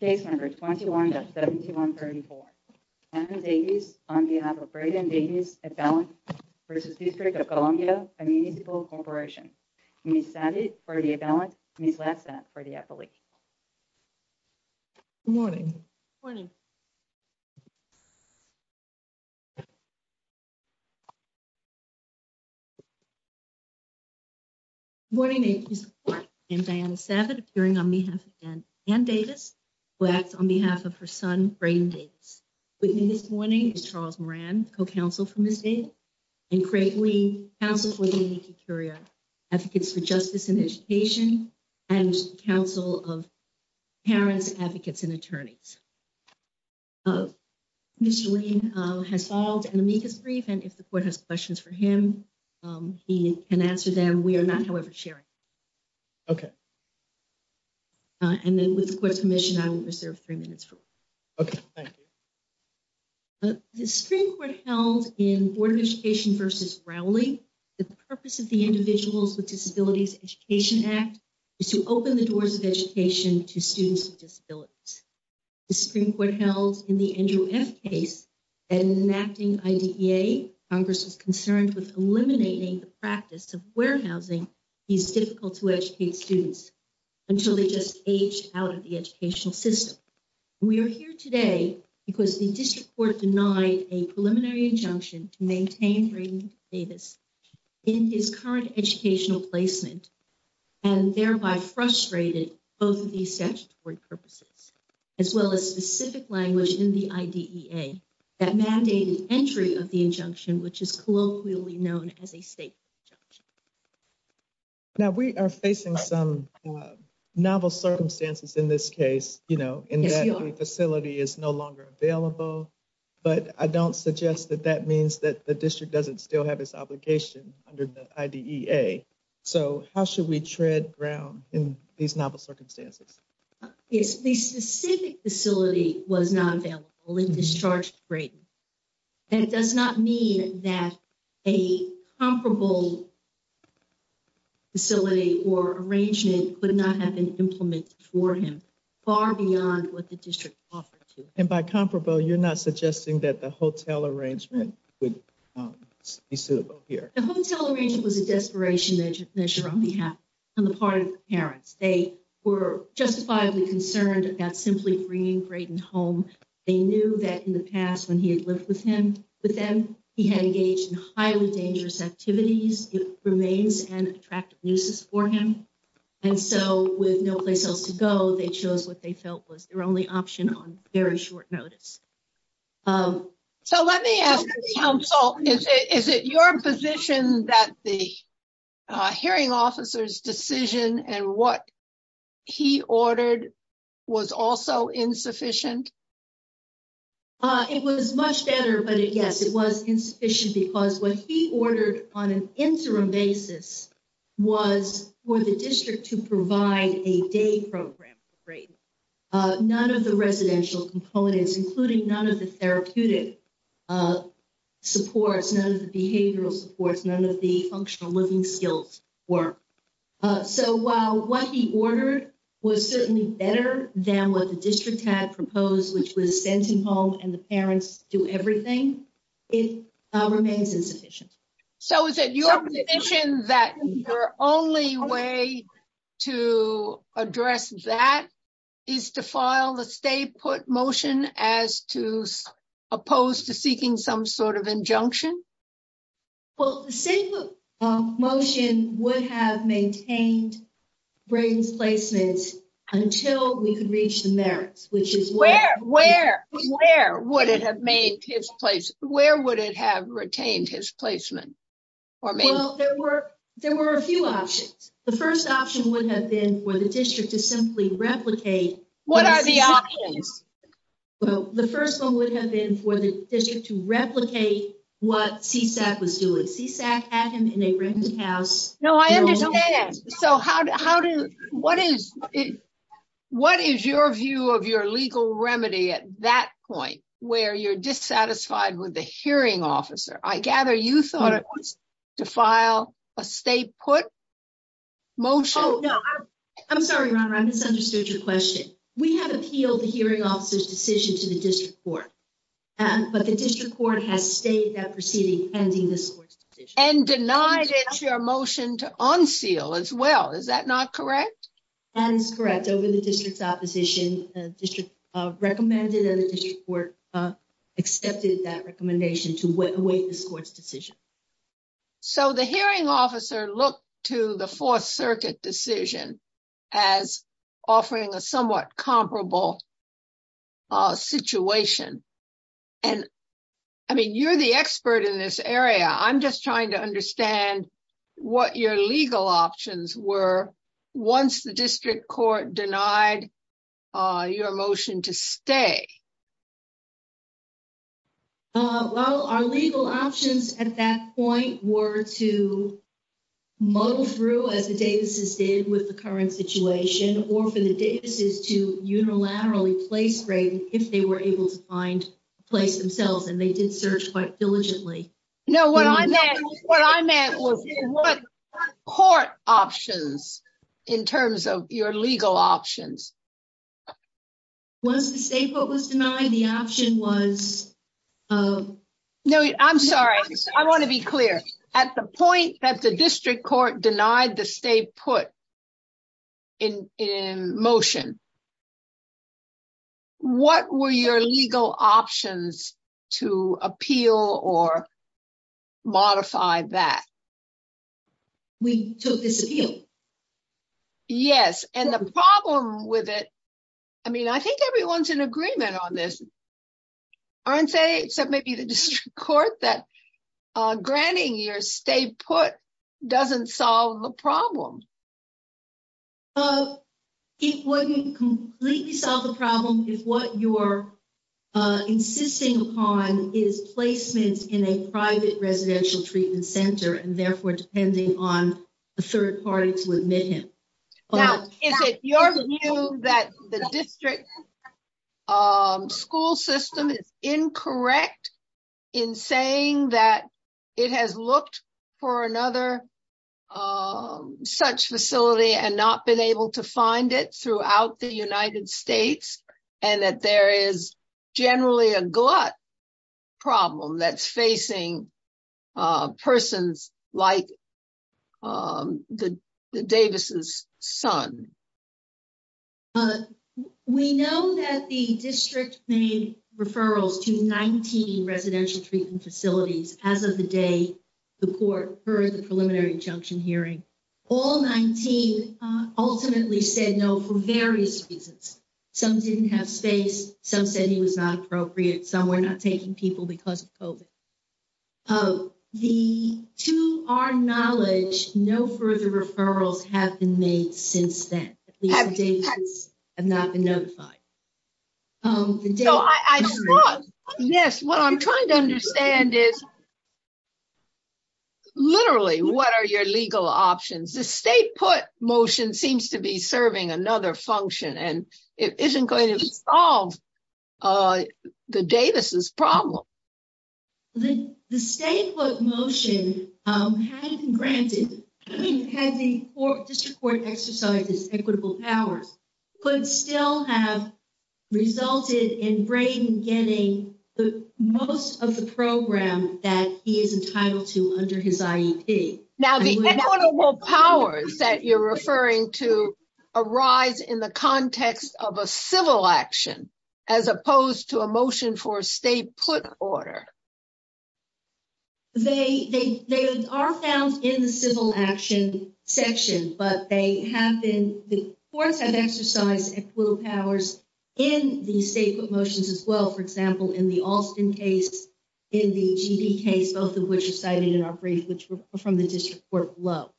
Case number 21 to 7134 on behalf of Braden Davis at balance versus district of Columbia Municipal Corporation. We set it for the balance for the appellee. Morning morning. Morning, and Diana Sabbath appearing on behalf and and Davis. Blacks on behalf of her son brain dates with me this morning is Charles Moran co counsel from the state. And create we counsel for the curia. Advocates for justice and education and counsel of. Parents advocates and attorneys. Miss has filed and meet his brief and if the court has questions for him. He can answer them. We are not however, sharing. Okay, and then with the commission, I will reserve 3 minutes for. Okay, thank you. The spring court held in order to station versus rally. The purpose of the individuals with disabilities education act. Is to open the doors of education to students with disabilities. The Supreme Court held in the Andrew F. case. And enacting Congress is concerned with eliminating the practice of warehousing. He's difficult to educate students until they just age out of the educational system. We are here today, because the district court denied a preliminary injunction to maintain Davis. In his current educational placement. And thereby frustrated both of these statutory purposes. As well, as specific language in the, that mandated entry of the injunction, which is colloquially known as a state. Now, we are facing some novel circumstances in this case, you know, in that facility is no longer available. But I don't suggest that that means that the district doesn't still have this obligation under the. So, how should we tread ground in these novel circumstances? Is the specific facility was not available in discharge? And it does not mean that a comparable. Facility or arrangement could not have been implemented for him. Far beyond what the district offer to and by comparable, you're not suggesting that the hotel arrangement would be suitable here. The hotel arrangement was a desperation measure on behalf. On the part of the parents, they were justifiably concerned about simply bringing Brayden home. They knew that in the past when he had lived with him with them, he had engaged in highly dangerous activities. It remains an attractive nuisance for him and so with no place else to go, they chose what they felt was their only option on very short notice. So, let me ask counsel, is it your position that the. Hearing officers decision and what. He ordered was also insufficient. It was much better, but it, yes, it was insufficient because what he ordered on an interim basis. Was for the district to provide a day program. Great. None of the residential components, including none of the therapeutic. Supports none of the behavioral supports, none of the functional living skills or. So, while what he ordered was certainly better than what the district had proposed, which was sent him home and the parents do everything. It remains insufficient. So, is it your position that your only way. To address that is to file the state put motion as to. Opposed to seeking some sort of injunction. Well, the same motion would have maintained. Brayden's placements until we could reach the merits, which is where, where, where would it have made his place? Where would it have retained his placement? Or maybe there were a few options. The 1st option would have been for the district to simply replicate. What are the. Well, the 1st, 1 would have been for the district to replicate what CSAC was doing. CSAC had him in a rented house. No, I understand. So how how do what is. What is your view of your legal remedy at that point where you're dissatisfied with the hearing officer? I gather you thought it was. To file a state put motion. I'm sorry, I misunderstood your question. We have appealed the hearing officers decision to the district court. And, but the district court has stayed that proceeding ending this and denied it your motion to unseal as well. Is that not correct? And it's correct over the district's opposition district recommended and the district court accepted that recommendation to await the court's decision. So, the hearing officer look to the 4th circuit decision. As offering a somewhat comparable. Situation and. I mean, you're the expert in this area. I'm just trying to understand. And what your legal options were. Once the district court denied your motion to stay. Well, our legal options at that point were to. Muddle through as the Davis's did with the current situation, or for the Davis's to unilaterally place rate, if they were able to find place themselves, and they did search quite diligently. No, what I meant what I meant was what court options. In terms of your legal options, once the state was denied, the option was. No, I'm sorry I want to be clear at the point that the district court denied the state put. In in motion. What were your legal options to appeal or. Modify that we took this. Yes, and the problem with it. I mean, I think everyone's in agreement on this. Aren't say, except maybe the court that. Granting your stay put doesn't solve the problem. It wouldn't completely solve the problem if what you're. Insisting upon is placement in a private residential treatment center and therefore, depending on the 3rd party to admit him. Is it your view that the district. School system is incorrect. In saying that it has looked. For another such facility and not been able to find it throughout the United States and that there is. Generally a glut problem that's facing. Persons like the. The Davis's son, but we know that the district made referrals to 19 residential treatment facilities as of the day. The court heard the preliminary junction hearing all 19 ultimately said, no, for various reasons. Some didn't have space. Some said he was not appropriate. Some were not taking people because of. The to our knowledge, no further referrals have been made since then have not been notified. I thought, yes, what I'm trying to understand is. Literally, what are your legal options? The state put motion seems to be serving another function and it isn't going to solve. The Davis's problem. The, the state motion had granted had the district court exercises equitable hours. But still have resulted in getting the most of the program that he is entitled to under his. Now, the powers that you're referring to. Arise in the context of a civil action. As opposed to a motion for a state put order. They, they, they are found in the civil action section, but they have been the courts have exercise little powers. In the state motions as well, for example, in the Austin case. In the case, both of which are cited in our brief, which were from the district court below.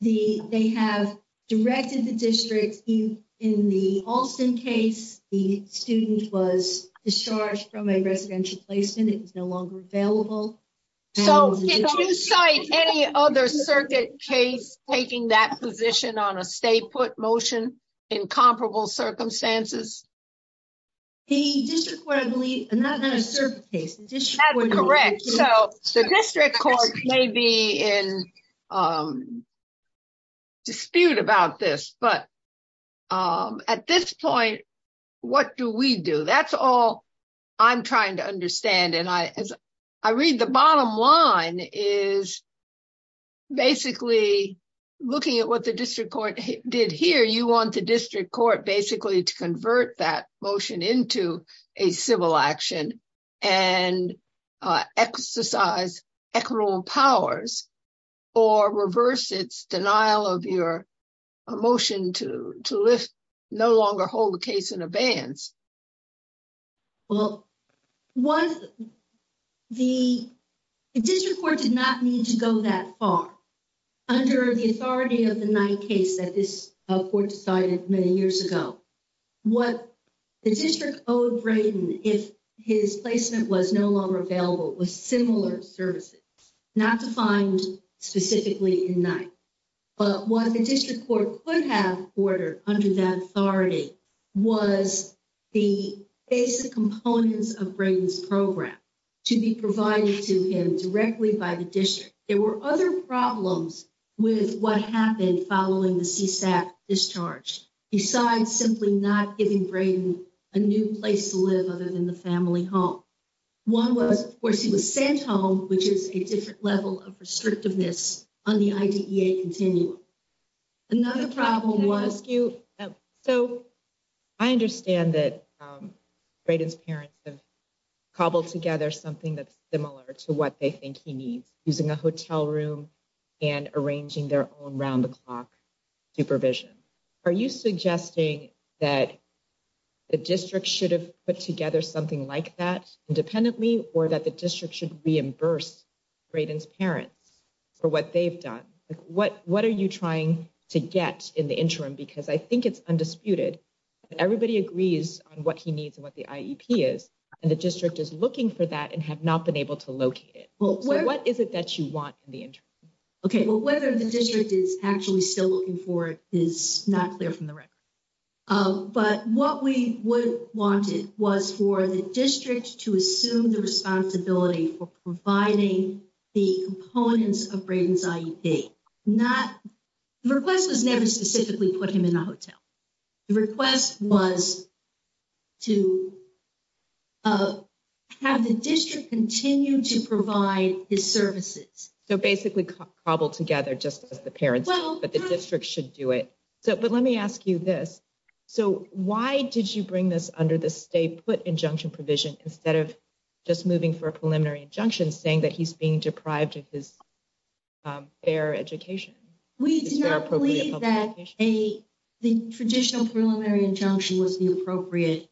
The, they have directed the district in the Austin case, the student was discharged from a residential placement. It was no longer available. So, did you cite any other circuit case taking that position on a state put motion? In comparable circumstances, the district court, I believe, not a certain case. Correct. So the district court may be in. Dispute about this, but. At this point, what do we do? That's all. I'm trying to understand and I, as I read the bottom line is. Basically, looking at what the district court did here, you want the district court basically to convert that motion into a civil action. And exercise powers. Or reverse its denial of your. A motion to to lift no longer hold the case in advance. Well, what. The district court did not need to go that far. Under the authority of the 9th case that this court decided many years ago. What the district? Oh, if his placement was no longer available with similar services, not defined specifically in night. But what the district court could have order under that authority. Was the basic components of brains program. To be provided to him directly by the district. There were other problems. With what happened following the discharge besides simply not giving a new place to live other than the family home. 1 was, of course, he was sent home, which is a different level of restrictiveness on the idea continuum. Another problem was you so. I understand that his parents have. Cobbled together something that's similar to what they think he needs using a hotel room. And arranging their own round the clock supervision. Are you suggesting that the district should have put together something like that independently or that the district should reimburse. Braden's parents for what they've done, what what are you trying to get in the interim? Because I think it's undisputed. Everybody agrees on what he needs and what the is, and the district is looking for that and have not been able to locate it. Well, what is it that you want the. Okay, well, whether the district is actually still looking for it is not clear from the record. But what we would want it was for the district to assume the responsibility for providing the components of brains. Not the request was never specifically put him in a hotel. Request was to. Have the district continue to provide his services so basically cobbled together just as the parents, but the district should do it. So, but let me ask you this. So, why did you bring this under the state put injunction provision instead of. Just moving for a preliminary injunction saying that he's being deprived of his. Fair education, we believe that a. The traditional preliminary injunction was the appropriate.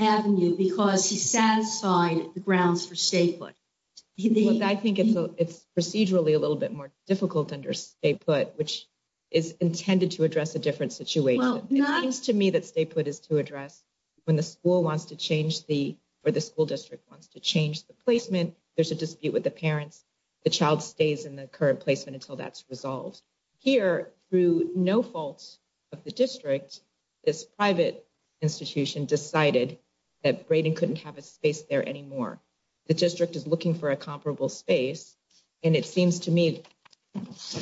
Avenue, because he satisfied the grounds for state. I think it's procedurally a little bit more difficult under a put, which. Is intended to address a different situation to me that state put is to address. When the school wants to change the, or the school district wants to change the placement, there's a dispute with the parents. The child stays in the current placement until that's resolved here through no faults. Of the district is private institution decided. That Braden couldn't have a space there anymore the district is looking for a comparable space. And it seems to me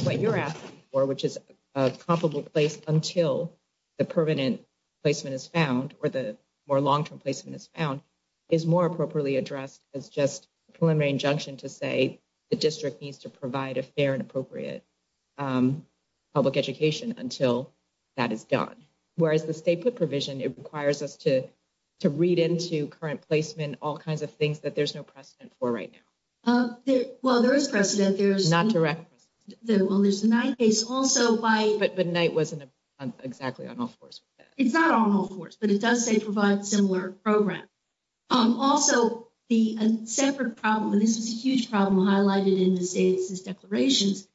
what you're asking for, which is a comparable place until. The permanent placement is found, or the more long term placement is found. Is more appropriately addressed as just preliminary injunction to say. The district needs to provide a fair and appropriate public education until. That is done, whereas the state put provision, it requires us to. To read into current placement, all kinds of things that there's no precedent for right now. Well, there is precedent there's not direct. There's a 9 case also by, but night wasn't exactly on all 4s. It's not on all 4s, but it does say provide similar program. Also, the separate problem, and this is a huge problem highlighted in the state's declarations.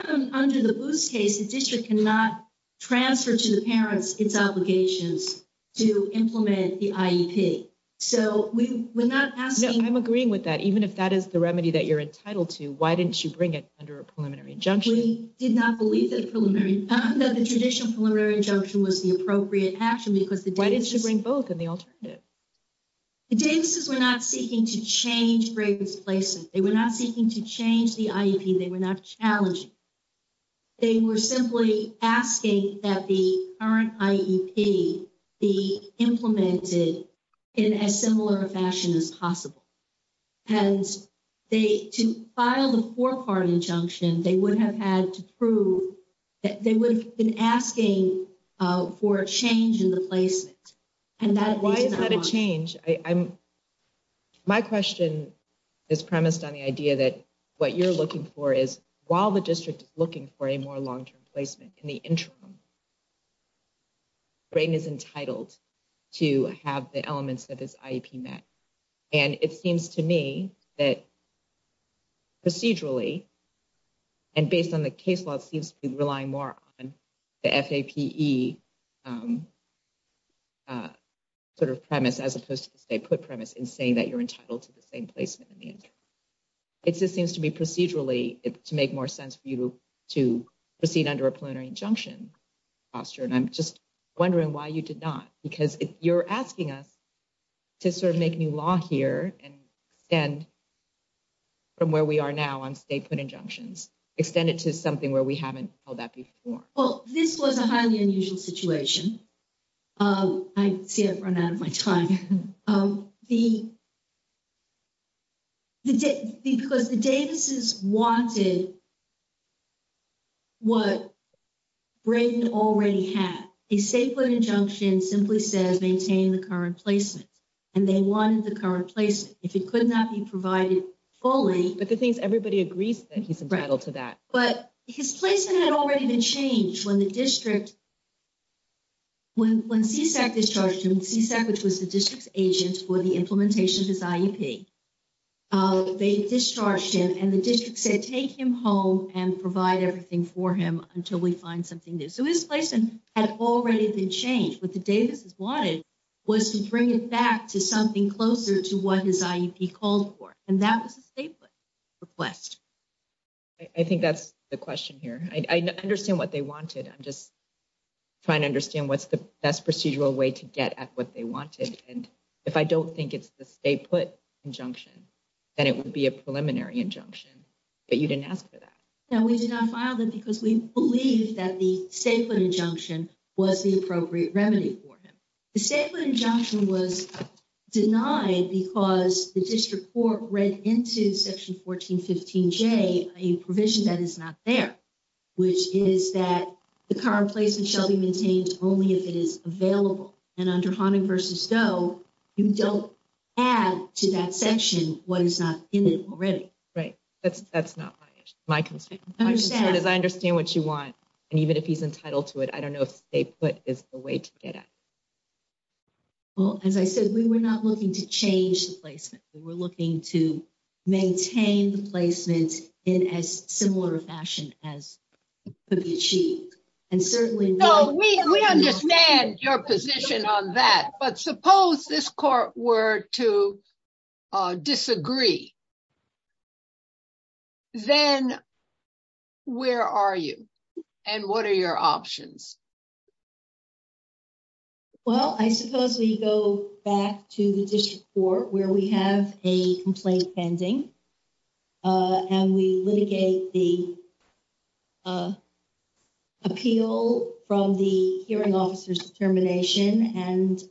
Under the case, the district cannot transfer to the parents, its obligations to implement the. So, we're not asking, I'm agreeing with that. Even if that is the remedy that you're entitled to, why didn't you bring it under a preliminary injunction? We did not believe that preliminary that the traditional preliminary injunction was the appropriate action. Because the why didn't you bring both and the alternative. The Davis's, we're not seeking to change places. They were not seeking to change the, they were not challenging. They were simply asking that the current be implemented in a similar fashion as possible. And they to file the 4 part injunction, they would have had to prove that they would have been asking for a change in the placement. And that why is that a change? I'm. My question is premised on the idea that what you're looking for is while the district is looking for a more long term placement in the interim. Brain is entitled to have the elements of this. And it seems to me that procedurally. And based on the case law seems to be relying more on. F. A. P. E. Sort of premise, as opposed to the state put premise and saying that you're entitled to the same placement. It just seems to be procedurally to make more sense for you to proceed under a plenary injunction. Foster and I'm just wondering why you did not because you're asking us. To sort of make new law here and. And from where we are now, I'm statement injunctions extended to something where we haven't held that before. Well, this was a highly unusual situation. I see it run out of my time the. The, because the Davis is wanted. What already have a statement injunction simply says, maintain the current placement. And they wanted the current place if it could not be provided. Only, but the things everybody agrees that he's a battle to that, but his placement had already been changed when the district. When when CSEC is charged him, which was the district's agent for the implementation of his. They discharged him and the district said, take him home and provide everything for him until we find something new. So his placement had already been changed. What the Davis is wanted. Was to bring it back to something closer to what his called for and that was a statement. Request, I think that's the question here. I understand what they wanted. I'm just. Trying to understand what's the best procedural way to get at what they wanted. And if I don't think it's the state put injunction. And it would be a preliminary injunction, but you didn't ask for that. Now, we did not file them because we believe that the statement injunction was the appropriate remedy for him. The statement injunction was denied because the district court read into section 1415 J, a provision that is not there. Which is that the current placement shall be maintained only if it is available and under haunting versus though you don't. Add to that section, what is not in it already? Right? That's that's not my concern is I understand what you want. And even if he's entitled to it, I don't know if they put is the way to get it. Well, as I said, we were not looking to change the placement. We're looking to. Maintain the placements in as similar fashion as. And certainly we understand your position on that, but suppose this court were to. Disagree, then. Where are you and what are your options? Well, I suppose we go back to the district for where we have a complaint pending. And we litigate the appeal from the hearing officers determination and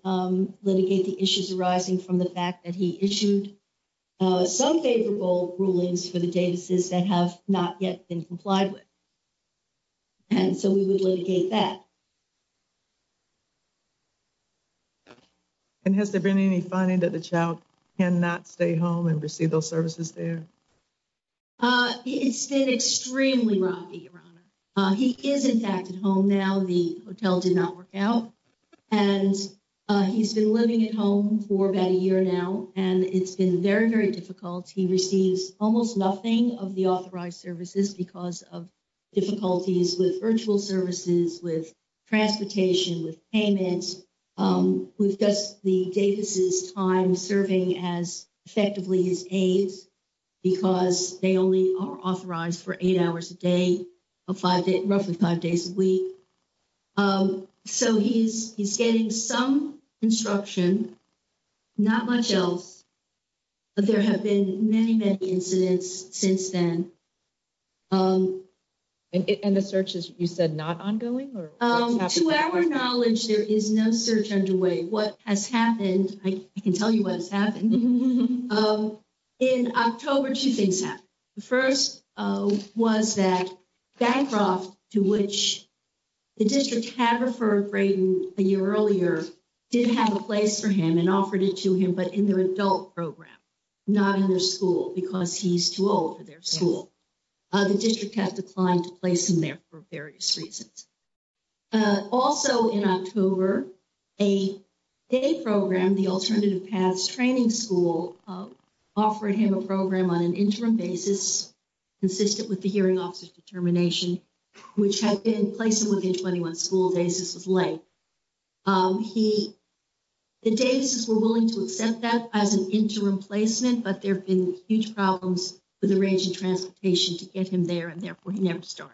litigate the issues arising from the fact that he issued. Some favorable rulings for the Davis's that have not yet been complied with. And so we would litigate that. And has there been any finding that the child can not stay home and receive those services there? It's been extremely rocky. He is in fact at home now, the hotel did not work out. And he's been living at home for about a year now, and it's been very, very difficult. He receives almost nothing of the authorized services because of. Difficulties with virtual services with transportation with payments. Um, we've just the Davis's time serving as effectively as aids. Because they only are authorized for 8 hours a day. A 5 day, roughly 5 days a week. So he's, he's getting some instruction. Not much else, but there have been many, many incidents since then. And the search is, you said not ongoing or to our knowledge, there is no search underway. What has happened? I can tell you what's happened. In October, 2 things that the 1st was that. Backed off to which the district had referred a year earlier. Did have a place for him and offered it to him, but in their adult program. Not in their school, because he's too old for their school. The district has declined to place in there for various reasons. Also, in October, a. A program, the alternative paths training school offered him a program on an interim basis. Consistent with the hearing officer's determination, which had been placing within 21 school days. This was late. He, the days were willing to accept that as an interim placement, but there have been huge problems with the range of transportation to get him there. And therefore he never start.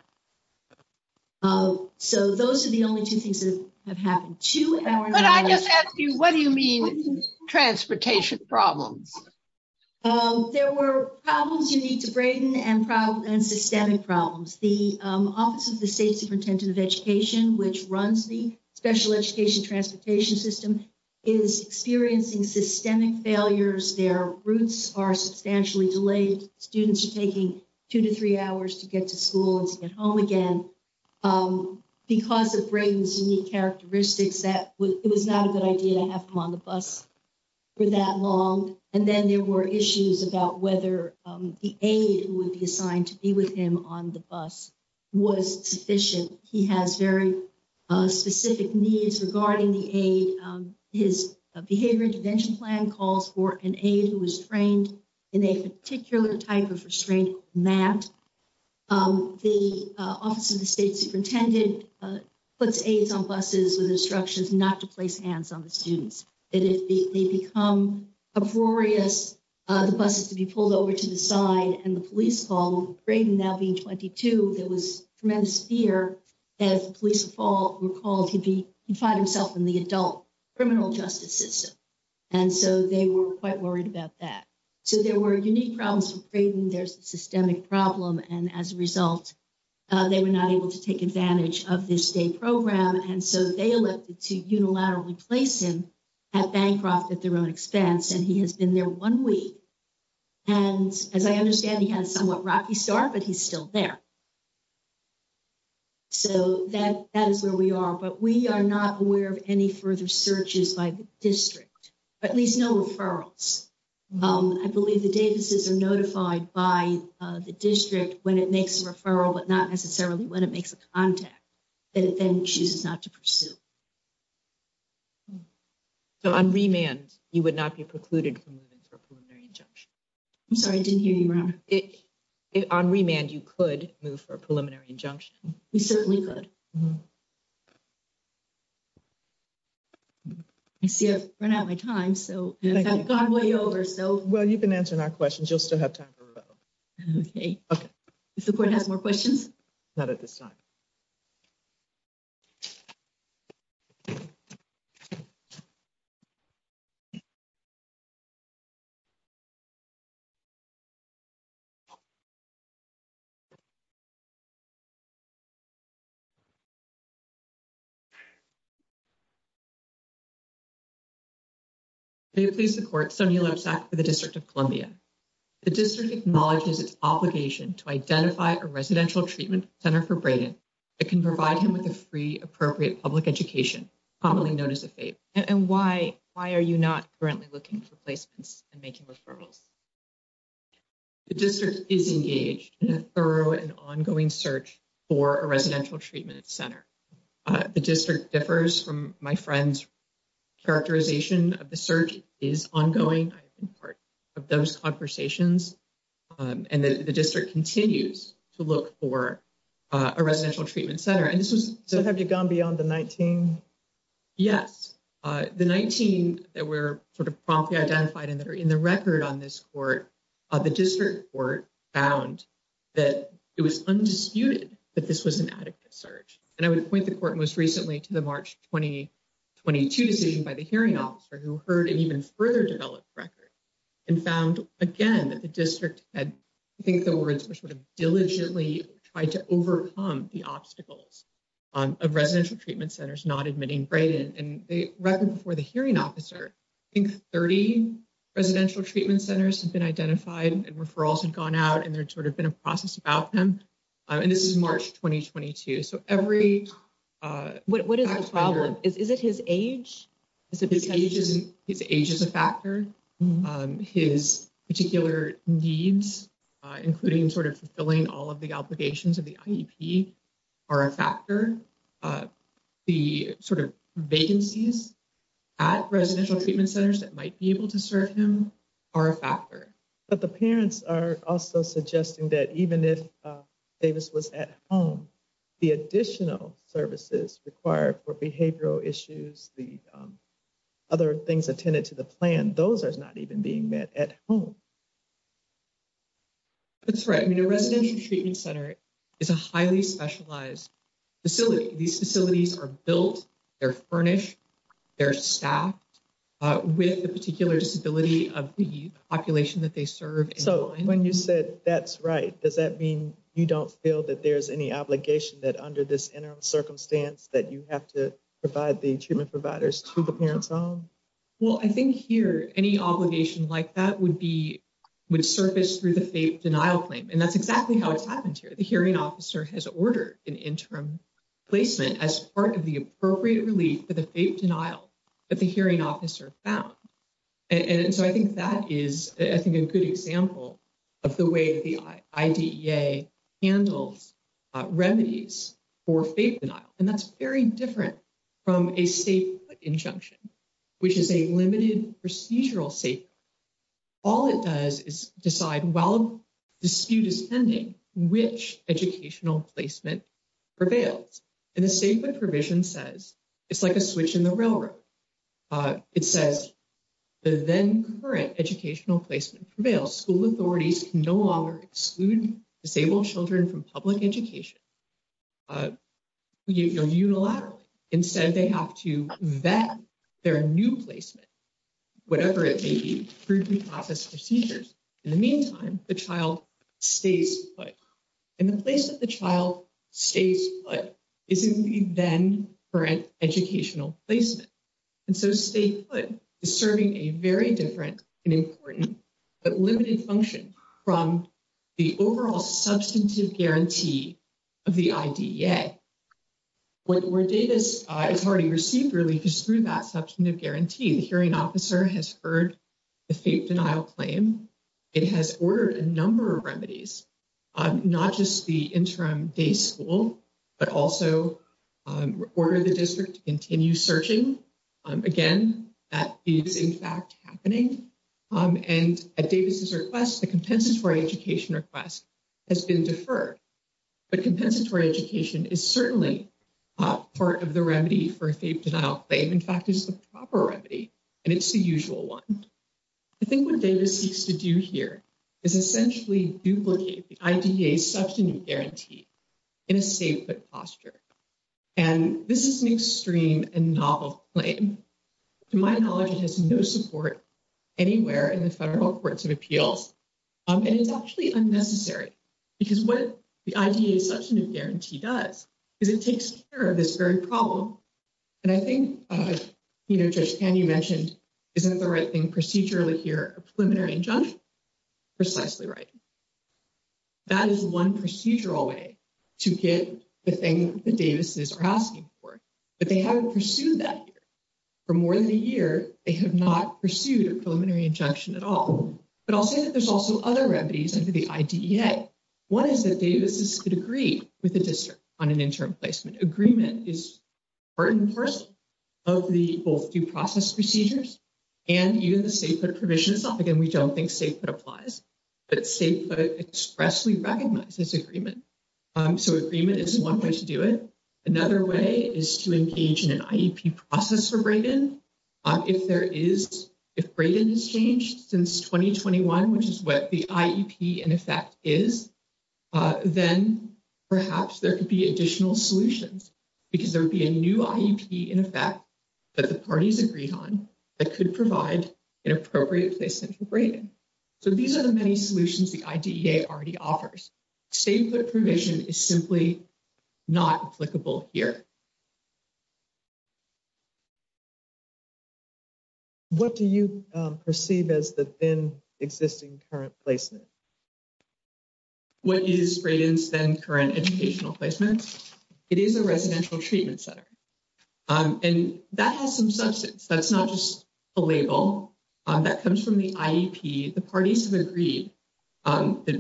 So, those are the only 2 things that have happened to you. What do you mean transportation problems? There were problems you need to Brayden and problem and systemic problems. The office of the state superintendent of education, which runs the special education transportation system. Is experiencing systemic failures. Their roots are substantially delayed. Students are taking 2 to 3 hours to get to school and get home again. Because of Brains characteristics that it was not a good idea to have them on the bus. For that long, and then there were issues about whether the aid would be assigned to be with him on the bus. Was sufficient, he has very specific needs regarding the aid. His behavior intervention plan calls for an aid who was trained. In a particular type of restraint, Matt. The office of the state superintendent puts aids on buses with instructions not to place hands on the students that if they become. A voracious the buses to be pulled over to the side and the police called now being 22. there was tremendous fear. As police fall, we're called to be find himself in the adult. Criminal justice system, and so they were quite worried about that. So there were unique problems. There's a systemic problem. And as a result. They were not able to take advantage of this day program and so they elected to unilaterally place him. At bankrupt at their own expense, and he has been there 1 week. And as I understand, he has somewhat rocky star, but he's still there. So, that that is where we are, but we are not aware of any further searches by district. But at least no referrals, I believe the Davis's are notified by the district when it makes a referral, but not necessarily when it makes a contact. And then she's not to pursue so on remand, you would not be precluded from moving for preliminary injunction. I'm sorry, I didn't hear you around it on remand. You could move for a preliminary injunction. We certainly could. I see I've run out of my time. So I've gone way over. So, well, you've been answering our questions. You'll still have time for. Okay, if the board has more questions, not at this time. Silence. Silence. Please support for the district of Columbia. The district acknowledges its obligation to identify a residential treatment center for Brandon. It can provide him with a free, appropriate public education. Commonly known as a fate and why why are you not currently looking for placements and making referrals. The district is engaged in a thorough and ongoing search. For a residential treatment center, the district differs from my friends. Characterization of the search is ongoing. Of those conversations, and the district continues to look for. A residential treatment center, and this was so have you gone beyond the 19. Yes, the 19 that were sort of promptly identified in that are in the record on this court. Uh, the district court found that it was undisputed that this was an adequate search and I would point the court most recently to the March 20. 22, seen by the hearing officer who heard it even further developed record and found again that the district had, I think the words were sort of diligently tried to overcome the obstacles of residential treatment centers, not admitting Brayden and the record before the hearing officer in 30 residential treatment centers have been identified and referrals had gone out and they're sort of been a process about them. And this is March 2022, so every what is the problem? Is it his age? Is it ages his age is a factor his particular needs, including sort of fulfilling all of the obligations of the. Are a factor the sort of vacancies. At residential treatment centers that might be able to serve him. Are a factor, but the parents are also suggesting that even if Davis was at home. The additional services required for behavioral issues, the. Other things attended to the plan, those are not even being met at home. That's right. I mean, a resident treatment center is a highly specialized. Facility, these facilities are built, they're furnished. They're staffed with a particular disability of the population that they serve. So, when you said that's right. Does that mean you don't feel that? There's any obligation that under this interim circumstance that you have to provide the treatment providers to the parents home. Well, I think here any obligation like that would be. Would surface through the denial claim and that's exactly how it's happened here. The hearing officer has ordered an interim. Placement as part of the appropriate relief for the denial. But the hearing officer found, and so I think that is, I think a good example. Of the way the handles. Remedies for fake denial and that's very different. From a safe injunction, which is a limited procedural safe. All it does is decide while dispute is pending, which educational placement. Prevails and the same, but provision says it's like a switch in the railroad. It says the then current educational placement prevails school authorities can no longer exclude disabled children from public education. You're unilaterally instead they have to vet their new placement. Whatever it may be through process procedures in the meantime, the child stays. In the place that the child stays, but isn't then for an educational placement. And so stay serving a very different and important. But limited function from the overall substantive guarantee. Of the, where data is already received really through that substantive guarantee. The hearing officer has heard. The fake denial claim, it has ordered a number of remedies. I'm not just the interim day school, but also. Order the district to continue searching again that is, in fact, happening. Um, and Davis's request, the compensatory education request. Has been deferred, but compensatory education is certainly. Part of the remedy for a denial claim, in fact, is the proper remedy. And it's the usual 1, I think what data seeks to do here. Is essentially duplicate the idea substantive guarantee. In a safe, but posture, and this is an extreme and novel claim. To my knowledge, it has no support anywhere in the federal courts of appeals. And it's actually unnecessary because what the idea is such a new guarantee does. Is it takes care of this very problem and I think. You know, just can you mentioned, isn't the right thing procedurally here? Preliminary. Precisely right that is 1 procedural way. To get the thing the Davis's are asking for. But they haven't pursued that for more than a year. They have not pursued a preliminary injunction at all. But I'll say that there's also other remedies into the idea. What is the Davis's could agree with the district on an interim placement agreement is. Part and parcel of the both due process procedures. And even the safe, but provisions again, we don't think safe applies. But safe, but expressly recognizes agreement. So, agreement is 1 way to do it another way is to engage in an process for. If there is, if Braden has changed since 2021, which is what the and if that is. Then, perhaps there could be additional solutions. Because there would be a new in effect, but the parties agreed on that could provide an appropriate placement for. So, these are the many solutions the idea already offers. Stay put provision is simply not applicable here. What do you perceive as the in existing current placement? What is Braden's then current educational placements? It is a residential treatment center. And that has some substance that's not just. A label that comes from the, the parties have agreed. Um, the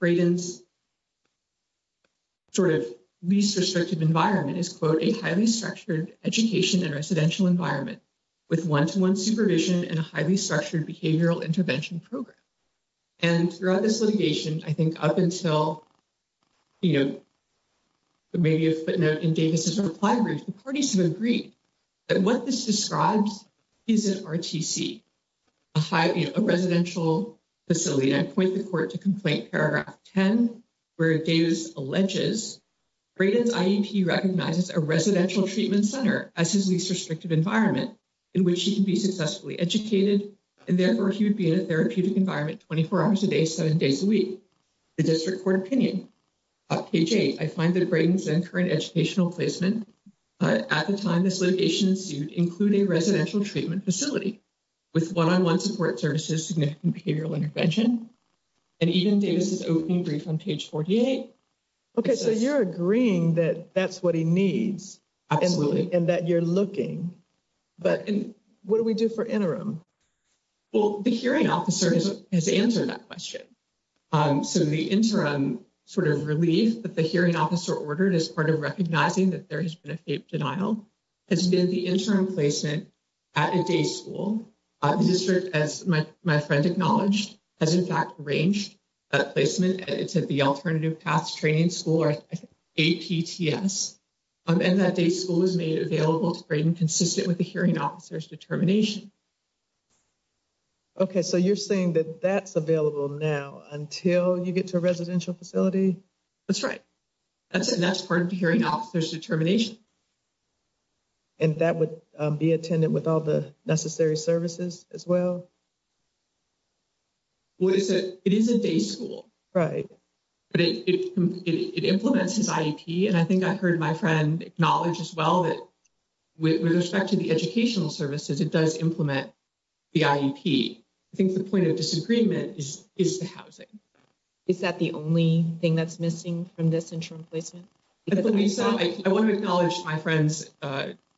Braden's sort of least restrictive environment is quote a highly structured education and residential environment. With 1 to 1 supervision and a highly structured behavioral intervention program. And throughout this litigation, I think up until. You know, maybe a footnote in Davis's reply brief, the parties have agreed. And what this describes is an. A residential facility and point the court to complaint paragraph 10. Where Davis alleges Braden's recognizes a residential treatment center as his least restrictive environment. In which he can be successfully educated and therefore he would be in a therapeutic environment 24 hours a day, 7 days a week. The district court opinion page 8, I find that Braden's and current educational placement. At the time, this litigation suit include a residential treatment facility. With 1 on 1 support services, significant behavioral intervention. And even Davis's opening brief on page 48. Okay, so you're agreeing that that's what he needs. Absolutely and that you're looking, but what do we do for interim? Well, the hearing officer has answered that question. So, the interim sort of relief that the hearing officer ordered as part of recognizing that there has been a denial. Has been the interim placement at a day school district as my friend acknowledged as in fact, range. A placement to the alternative paths training school or. A, and that day school is made available to Braden consistent with the hearing officers determination. Okay, so you're saying that that's available now until you get to a residential facility. That's right that's that's part of the hearing officers determination. And that would be attended with all the necessary services as well. What is it? It is a day school, right? It implements his and I think I heard my friend knowledge as well that. With respect to the educational services, it does implement. The, I think the point of disagreement is, is the housing. Is that the only thing that's missing from this interim placement? I want to acknowledge my friend's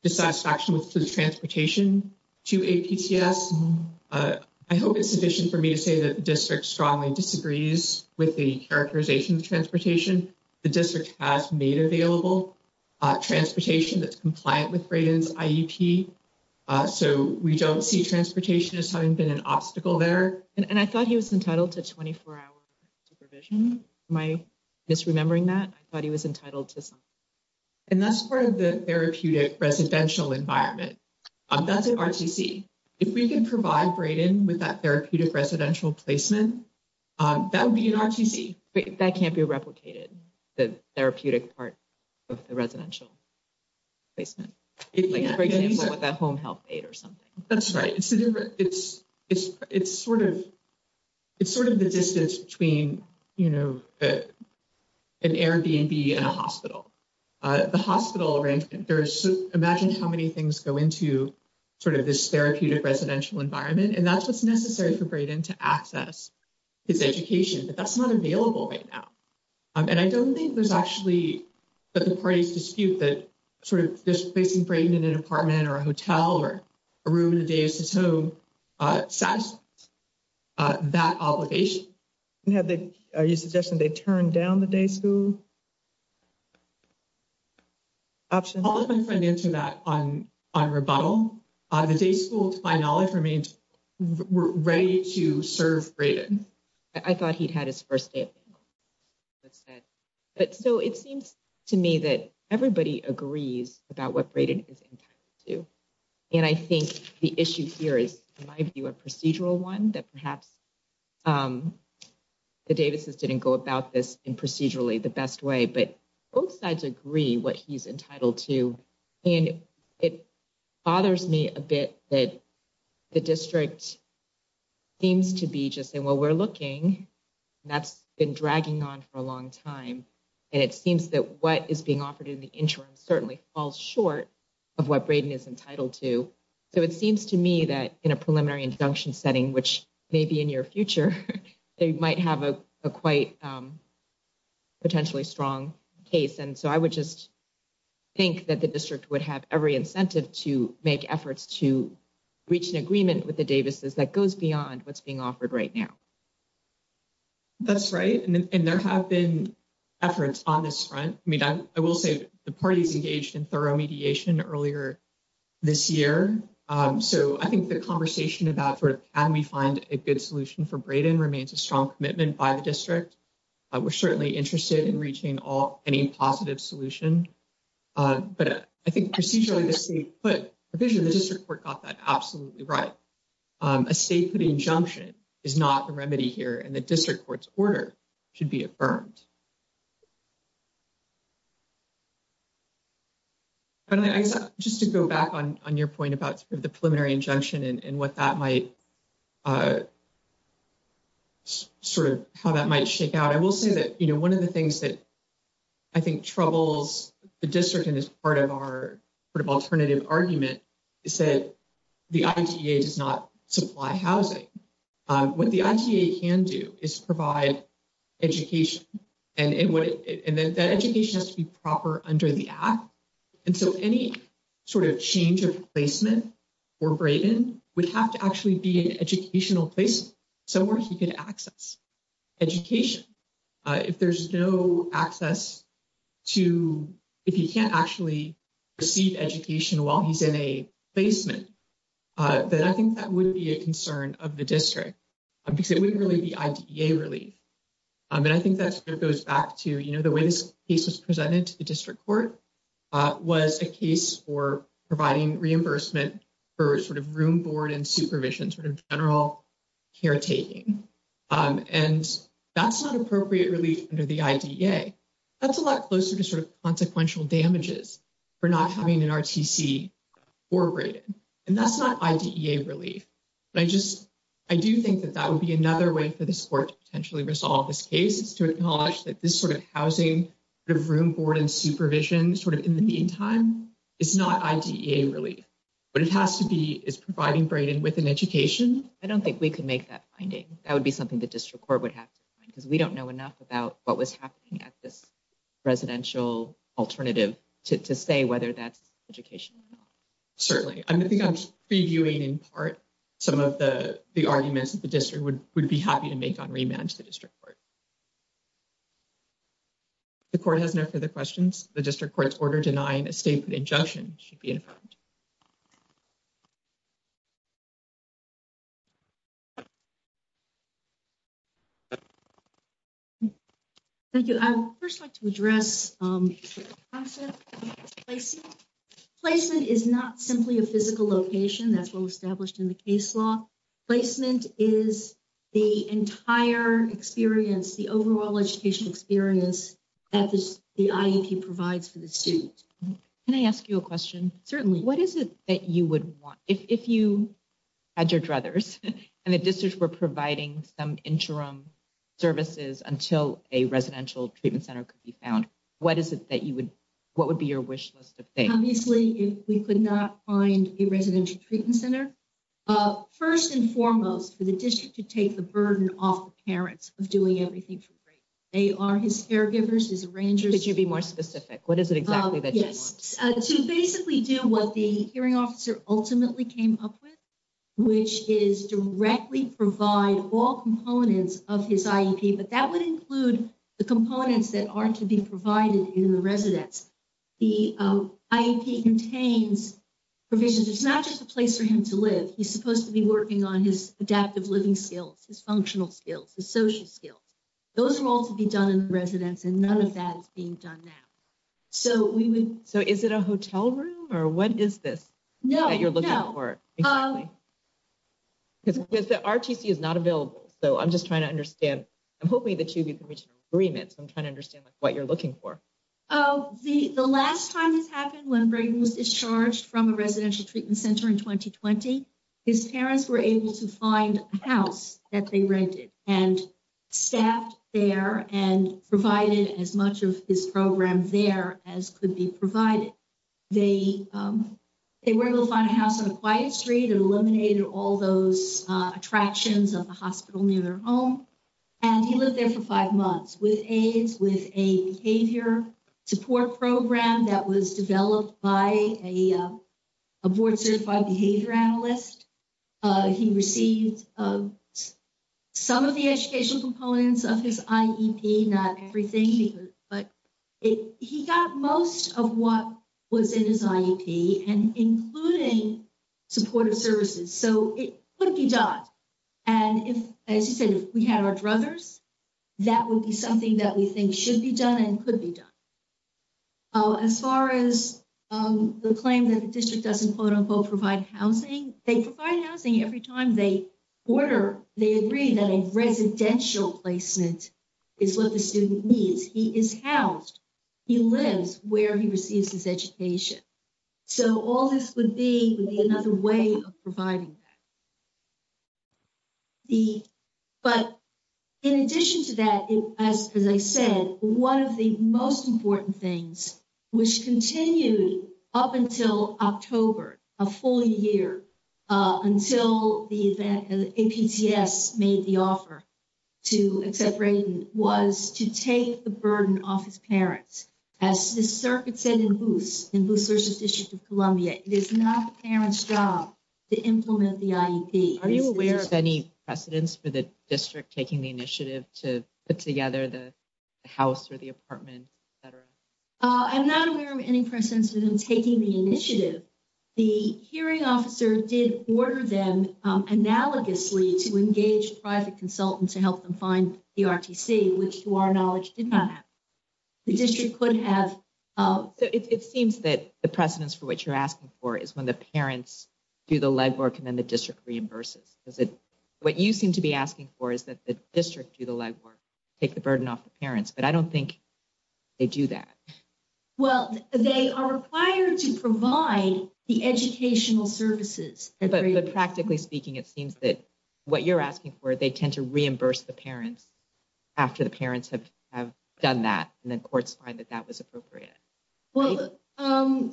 dissatisfaction with transportation to a, I hope it's sufficient for me to say that district strongly disagrees with the characterization of transportation. The district has made available transportation that's compliant with Braden's. So, we don't see transportation as having been an obstacle there and I thought he was entitled to 24 hour. Supervision my misremembering that I thought he was entitled to. And that's part of the therapeutic residential environment. That's an RTC if we can provide Braden with that therapeutic residential placement. That would be an RTC that can't be replicated. The therapeutic part of the residential. Basement that home health aid or something. That's right. It's it's, it's, it's sort of. It's sort of the distance between, you know. An Airbnb and a hospital, the hospital arrangement there's imagine how many things go into. Sort of this therapeutic residential environment, and that's what's necessary for Braden to access. His education, but that's not available right now and I don't think there's actually. But the parties dispute that sort of just placing brain in an apartment or a hotel or. A room in the day, so that obligation. And have they are you suggesting they turn down the day school. Option answer that on on rebuttal. The day school, to my knowledge remains ready to serve. I thought he'd had his 1st day, but said. But so it seems to me that everybody agrees about what Braden is entitled to. And I think the issue here is, in my view, a procedural 1 that perhaps. The Davis's didn't go about this and procedurally the best way, but both sides agree what he's entitled to. And it bothers me a bit that. The district seems to be just saying, well, we're looking. That's been dragging on for a long time and it seems that what is being offered in the interim certainly falls short. Of what Braden is entitled to, so it seems to me that in a preliminary injunction setting, which may be in your future, they might have a quite. Potentially strong case, and so I would just. Think that the district would have every incentive to make efforts to. Reach an agreement with the Davis's that goes beyond what's being offered right now. That's right and there have been. Efforts on this front, I mean, I will say the parties engaged in thorough mediation earlier. This year, so I think the conversation about sort of, can we find a good solution for Braden remains a strong commitment by the district. We're certainly interested in reaching all any positive solution. But I think procedurally, but the district court got that absolutely right. A safety injunction is not a remedy here and the district court's order. Should be affirmed just to go back on on your point about the preliminary injunction and what that might. Sort of how that might shake out, I will say that, you know, 1 of the things that. I think troubles the district and as part of our. Sort of alternative argument is that the does not supply housing. What the can do is provide. Education, and that education has to be proper under the app. And so any sort of change of placement. Or Brayden would have to actually be an educational place. Somewhere he could access education. If there's no access to. If you can't actually receive education while he's in a. Basement that I think that would be a concern of the district. Because it wouldn't really be a relief and I think that goes back to, you know, the way this case was presented to the district court. Was a case for providing reimbursement. For sort of room board and supervision sort of general. Caretaking and that's not appropriate relief under the. That's a lot closer to sort of consequential damages. We're not having an, and that's not really. I just, I do think that that would be another way for the support to potentially resolve this case is to acknowledge that this sort of housing. The room board and supervision sort of in the meantime. It's not really, but it has to be is providing Brayden with an education. I don't think we can make that finding. That would be something that district court would have. Because we don't know enough about what was happening at this. Residential alternative to say whether that's education. Certainly, I think I'm previewing in part. Some of the, the arguments that the district would would be happy to make on remand to the district court. The court has no further questions the district court's order denying a statement injunction should be in front. Thank you. I would first like to address. Placement is not simply a physical location. That's what we established in the case law placement is the entire experience. The overall educational experience at the provides for the suit and I ask you a question. Certainly. What is it that you would want? If you had your brothers and the district were providing some interim. Services until a residential treatment center could be found. What is it that you would. What would be your wish list? Obviously, if we could not find a residential treatment center. 1st, and foremost for the district to take the burden off the parents of doing everything for. They are his caregivers is a ranger. Could you be more specific? What is it exactly? Yes, to basically do what the hearing officer ultimately came up with. Which is directly provide all components of his, but that would include the components that aren't to be provided in the residence. The contains provisions, it's not just a place for him to live. He's supposed to be working on his adaptive living skills, his functional skills, the social skills. Those are all to be done in the residence and none of that is being done now. So, we would so, is it a hotel room or what is this? No, you're looking for because the is not available. So I'm just trying to understand. I'm hoping that you can reach agreements. I'm trying to understand what you're looking for. Oh, the, the last time this happened when was discharged from a residential treatment center in 2020. His parents were able to find a house that they rented and. Staffed there and provided as much of his program there as could be provided. They, they were able to find a house on a quiet street and eliminated all those attractions of the hospital near their home. And he lived there for 5 months with aids with a behavior support program that was developed by a. Abort certified behavior analyst, he received. Some of the educational components of his not everything, but. He got most of what was in his and including. Supportive services, so it would be done. And if, as you said, if we had our brothers. That would be something that we think should be done and could be done. As far as the claim that the district doesn't quote unquote, provide housing, they provide housing every time they order, they agree that a residential placement. Is what the student needs he is housed. He lives where he receives his education. So, all this would be another way of providing that. The, but in addition to that, as I said, 1 of the most important things. Which continued up until October a full year. Until the event, the APTS made the offer. To accept was to take the burden off his parents. As the circuit said in boost in Boosters District of Columbia, it is not parents job. To implement the, are you aware of any precedents for the district taking the initiative to put together the. The house or the apartment, et cetera, I'm not aware of any precedents within taking the initiative. The hearing officer did order them analogously to engage private consultant to help them find the, which to our knowledge did not. The district could have it seems that the precedents for what you're asking for is when the parents. Do the legwork and then the district reimburses is it what you seem to be asking for is that the district do the legwork. Take the burden off the parents, but I don't think they do that. Well, they are required to provide the educational services, but practically speaking, it seems that. What you're asking for, they tend to reimburse the parents. After the parents have have done that, and then courts find that that was appropriate. Well,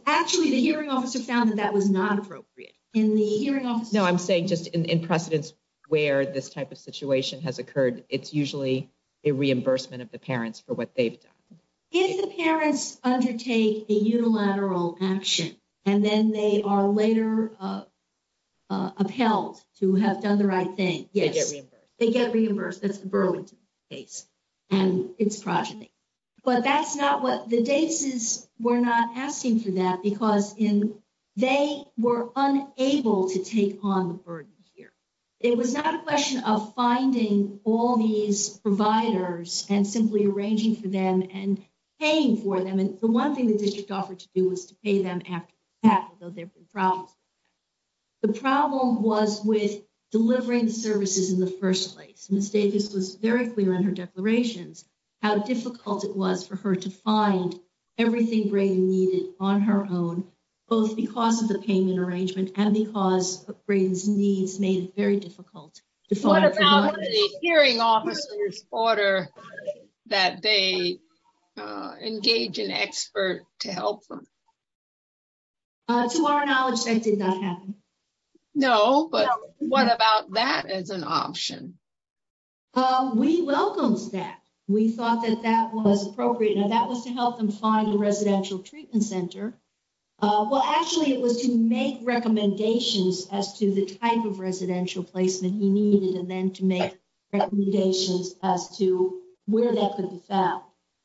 actually, the hearing officer found that that was not appropriate in the hearing office. No, I'm saying just in precedents. Where this type of situation has occurred, it's usually. A reimbursement of the parents for what they've done if the parents undertake a unilateral action, and then they are later. Upheld to have done the right thing. Yes, they get reimbursed. That's the Burlington case. And it's progeny, but that's not what the days is. We're not asking for that because in. They were unable to take on the burden here. It was not a question of finding all these providers and simply arranging for them and paying for them. And the 1 thing the district offered to do was to pay them after that, though, there were problems. The problem was with delivering services in the 1st place mistake. This was very clear in her declarations. How difficult it was for her to find everything needed on her own. Both because of the payment arrangement, and because brains needs made it very difficult. What about the hearing officer's order that they. Engage an expert to help them. To our knowledge, that did not happen. No, but what about that as an option? We welcome that we thought that that was appropriate and that was to help them find the residential treatment center. Well, actually, it was to make recommendations as to the type of residential placement he needed and then to make. Decisions as to where that could be found.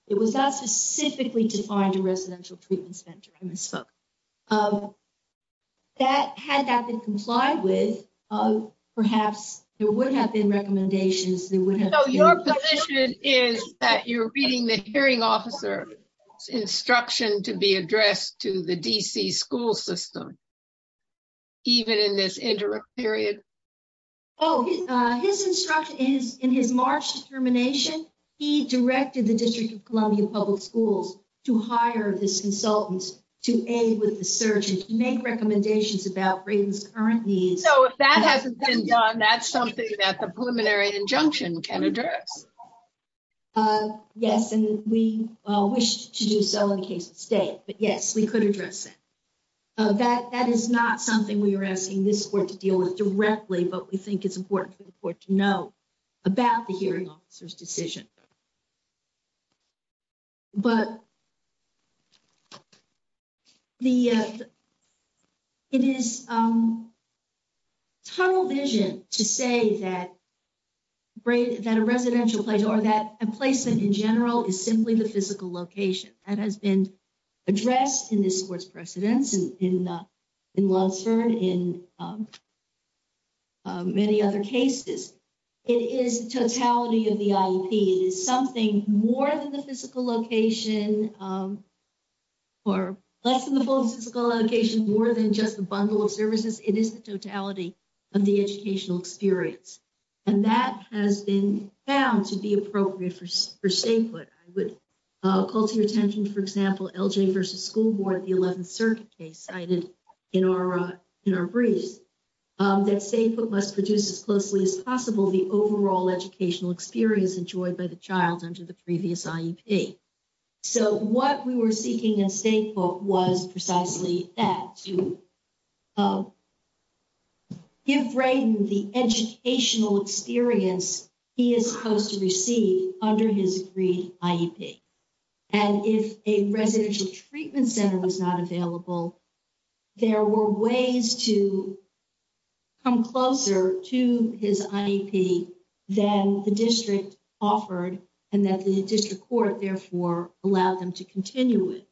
It was not specifically to find a residential treatment center. That had that been complied with, perhaps there would have been recommendations. They would have your position is that you're reading the hearing officer. Instruction to be addressed to the DC school system. Even in this indirect period. Oh, his instruction is in his March termination. He directed the district of Columbia public schools to hire this consultants to aid with the search and make recommendations about ratings. Currently. So, if that hasn't been done, that's something that the preliminary injunction can address. Yes, and we wish to do so in case of state, but yes, we could address it. That that is not something we were asking this to deal with directly, but we think it's important for the court to know. About the hearing officer's decision, but. The, it is. Tunnel vision to say that. Great that a residential place or that a placement in general is simply the physical location that has been. Addressed in this sports precedents in. In lots heard in many other cases. It is totality of the is something more than the physical location. Or less than the full physical location more than just a bundle of services. It is the totality. Of the educational experience, and that has been found to be appropriate for for state. But I would. Call to your attention, for example, versus school board, the 11th circuit case cited in our, in our briefs. That same, but must produce as closely as possible the overall educational experience enjoyed by the child under the previous. So, what we were seeking and say, what was precisely that to. Uh, if the educational experience. He is supposed to receive under his green. And if a residential treatment center was not available. There were ways to come closer to his. Then the district offered, and that the district court therefore allowed them to continue it.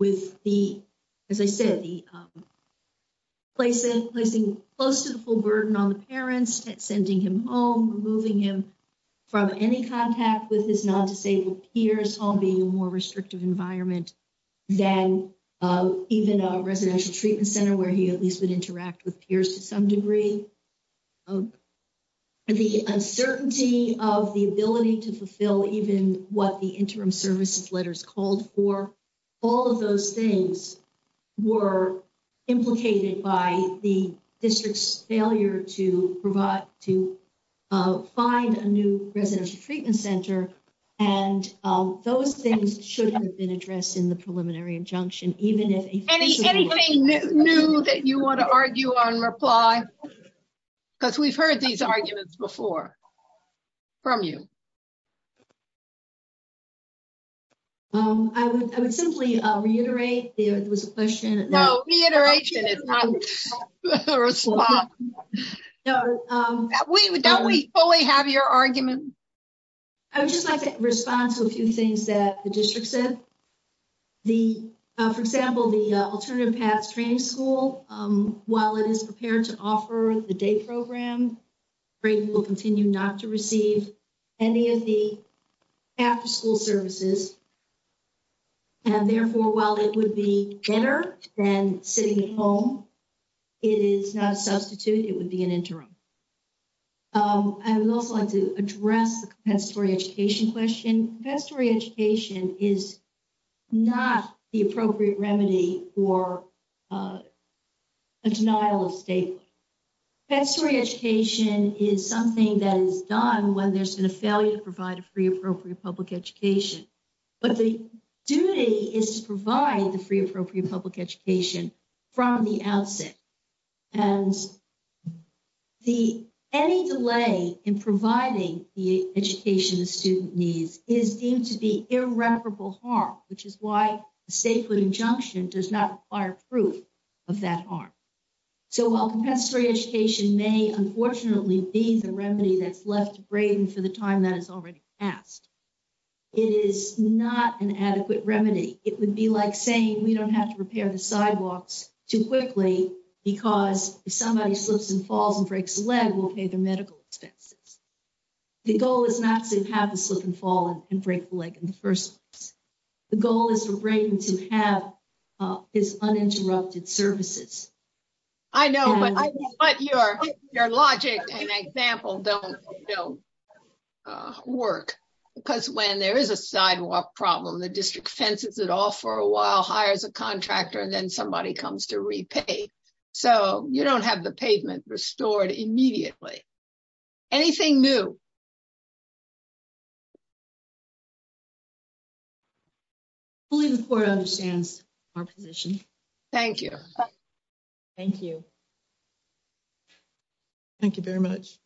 With the, as I said, the place and placing close to the full burden on the parents, sending him home, moving him. From any contact with his non disabled peers home, being a more restrictive environment. Then even a residential treatment center where he at least would interact with peers to some degree. The uncertainty of the ability to fulfill even what the interim services letters called for. All of those things were implicated by the district's failure to provide to find a new residential treatment center. And those things should have been addressed in the preliminary injunction, even if anything new that you want to argue on reply. Because we've heard these arguments before from you. I would simply reiterate there was a question. No, reiteration is not. No, we don't we fully have your argument. I would just like to respond to a few things that the district said. The, for example, the alternative paths training school, while it is prepared to offer the day program. Great will continue not to receive any of the. After school services and therefore, while it would be better than sitting at home. It is not a substitute. It would be an interim. I would also like to address the story education question. Best story education is. Not the appropriate remedy for. A denial of state education is something that is done when there's been a failure to provide a free, appropriate public education. But the duty is to provide the free, appropriate public education. From the outset, and the, any delay in providing the education student needs is deemed to be irreparable harm, which is why. State put injunction does not fire proof of that arm. So, while compensatory education may unfortunately be the remedy that's left brain for the time that is already asked. It is not an adequate remedy. It would be like saying we don't have to repair the sidewalks too quickly because somebody slips and falls and breaks leg. We'll pay the medical expenses. The goal is not to have a slip and fall and break the leg in the 1st. The goal is to bring to have is uninterrupted services. I know, but your logic example don't work because when there is a sidewalk problem, the district fences it all for a while, hires a contractor, and then somebody comes to repay. So, you don't have the pavement restored immediately. Anything new the court understands our position. Thank you. Thank you. Thank you very much. Submitted.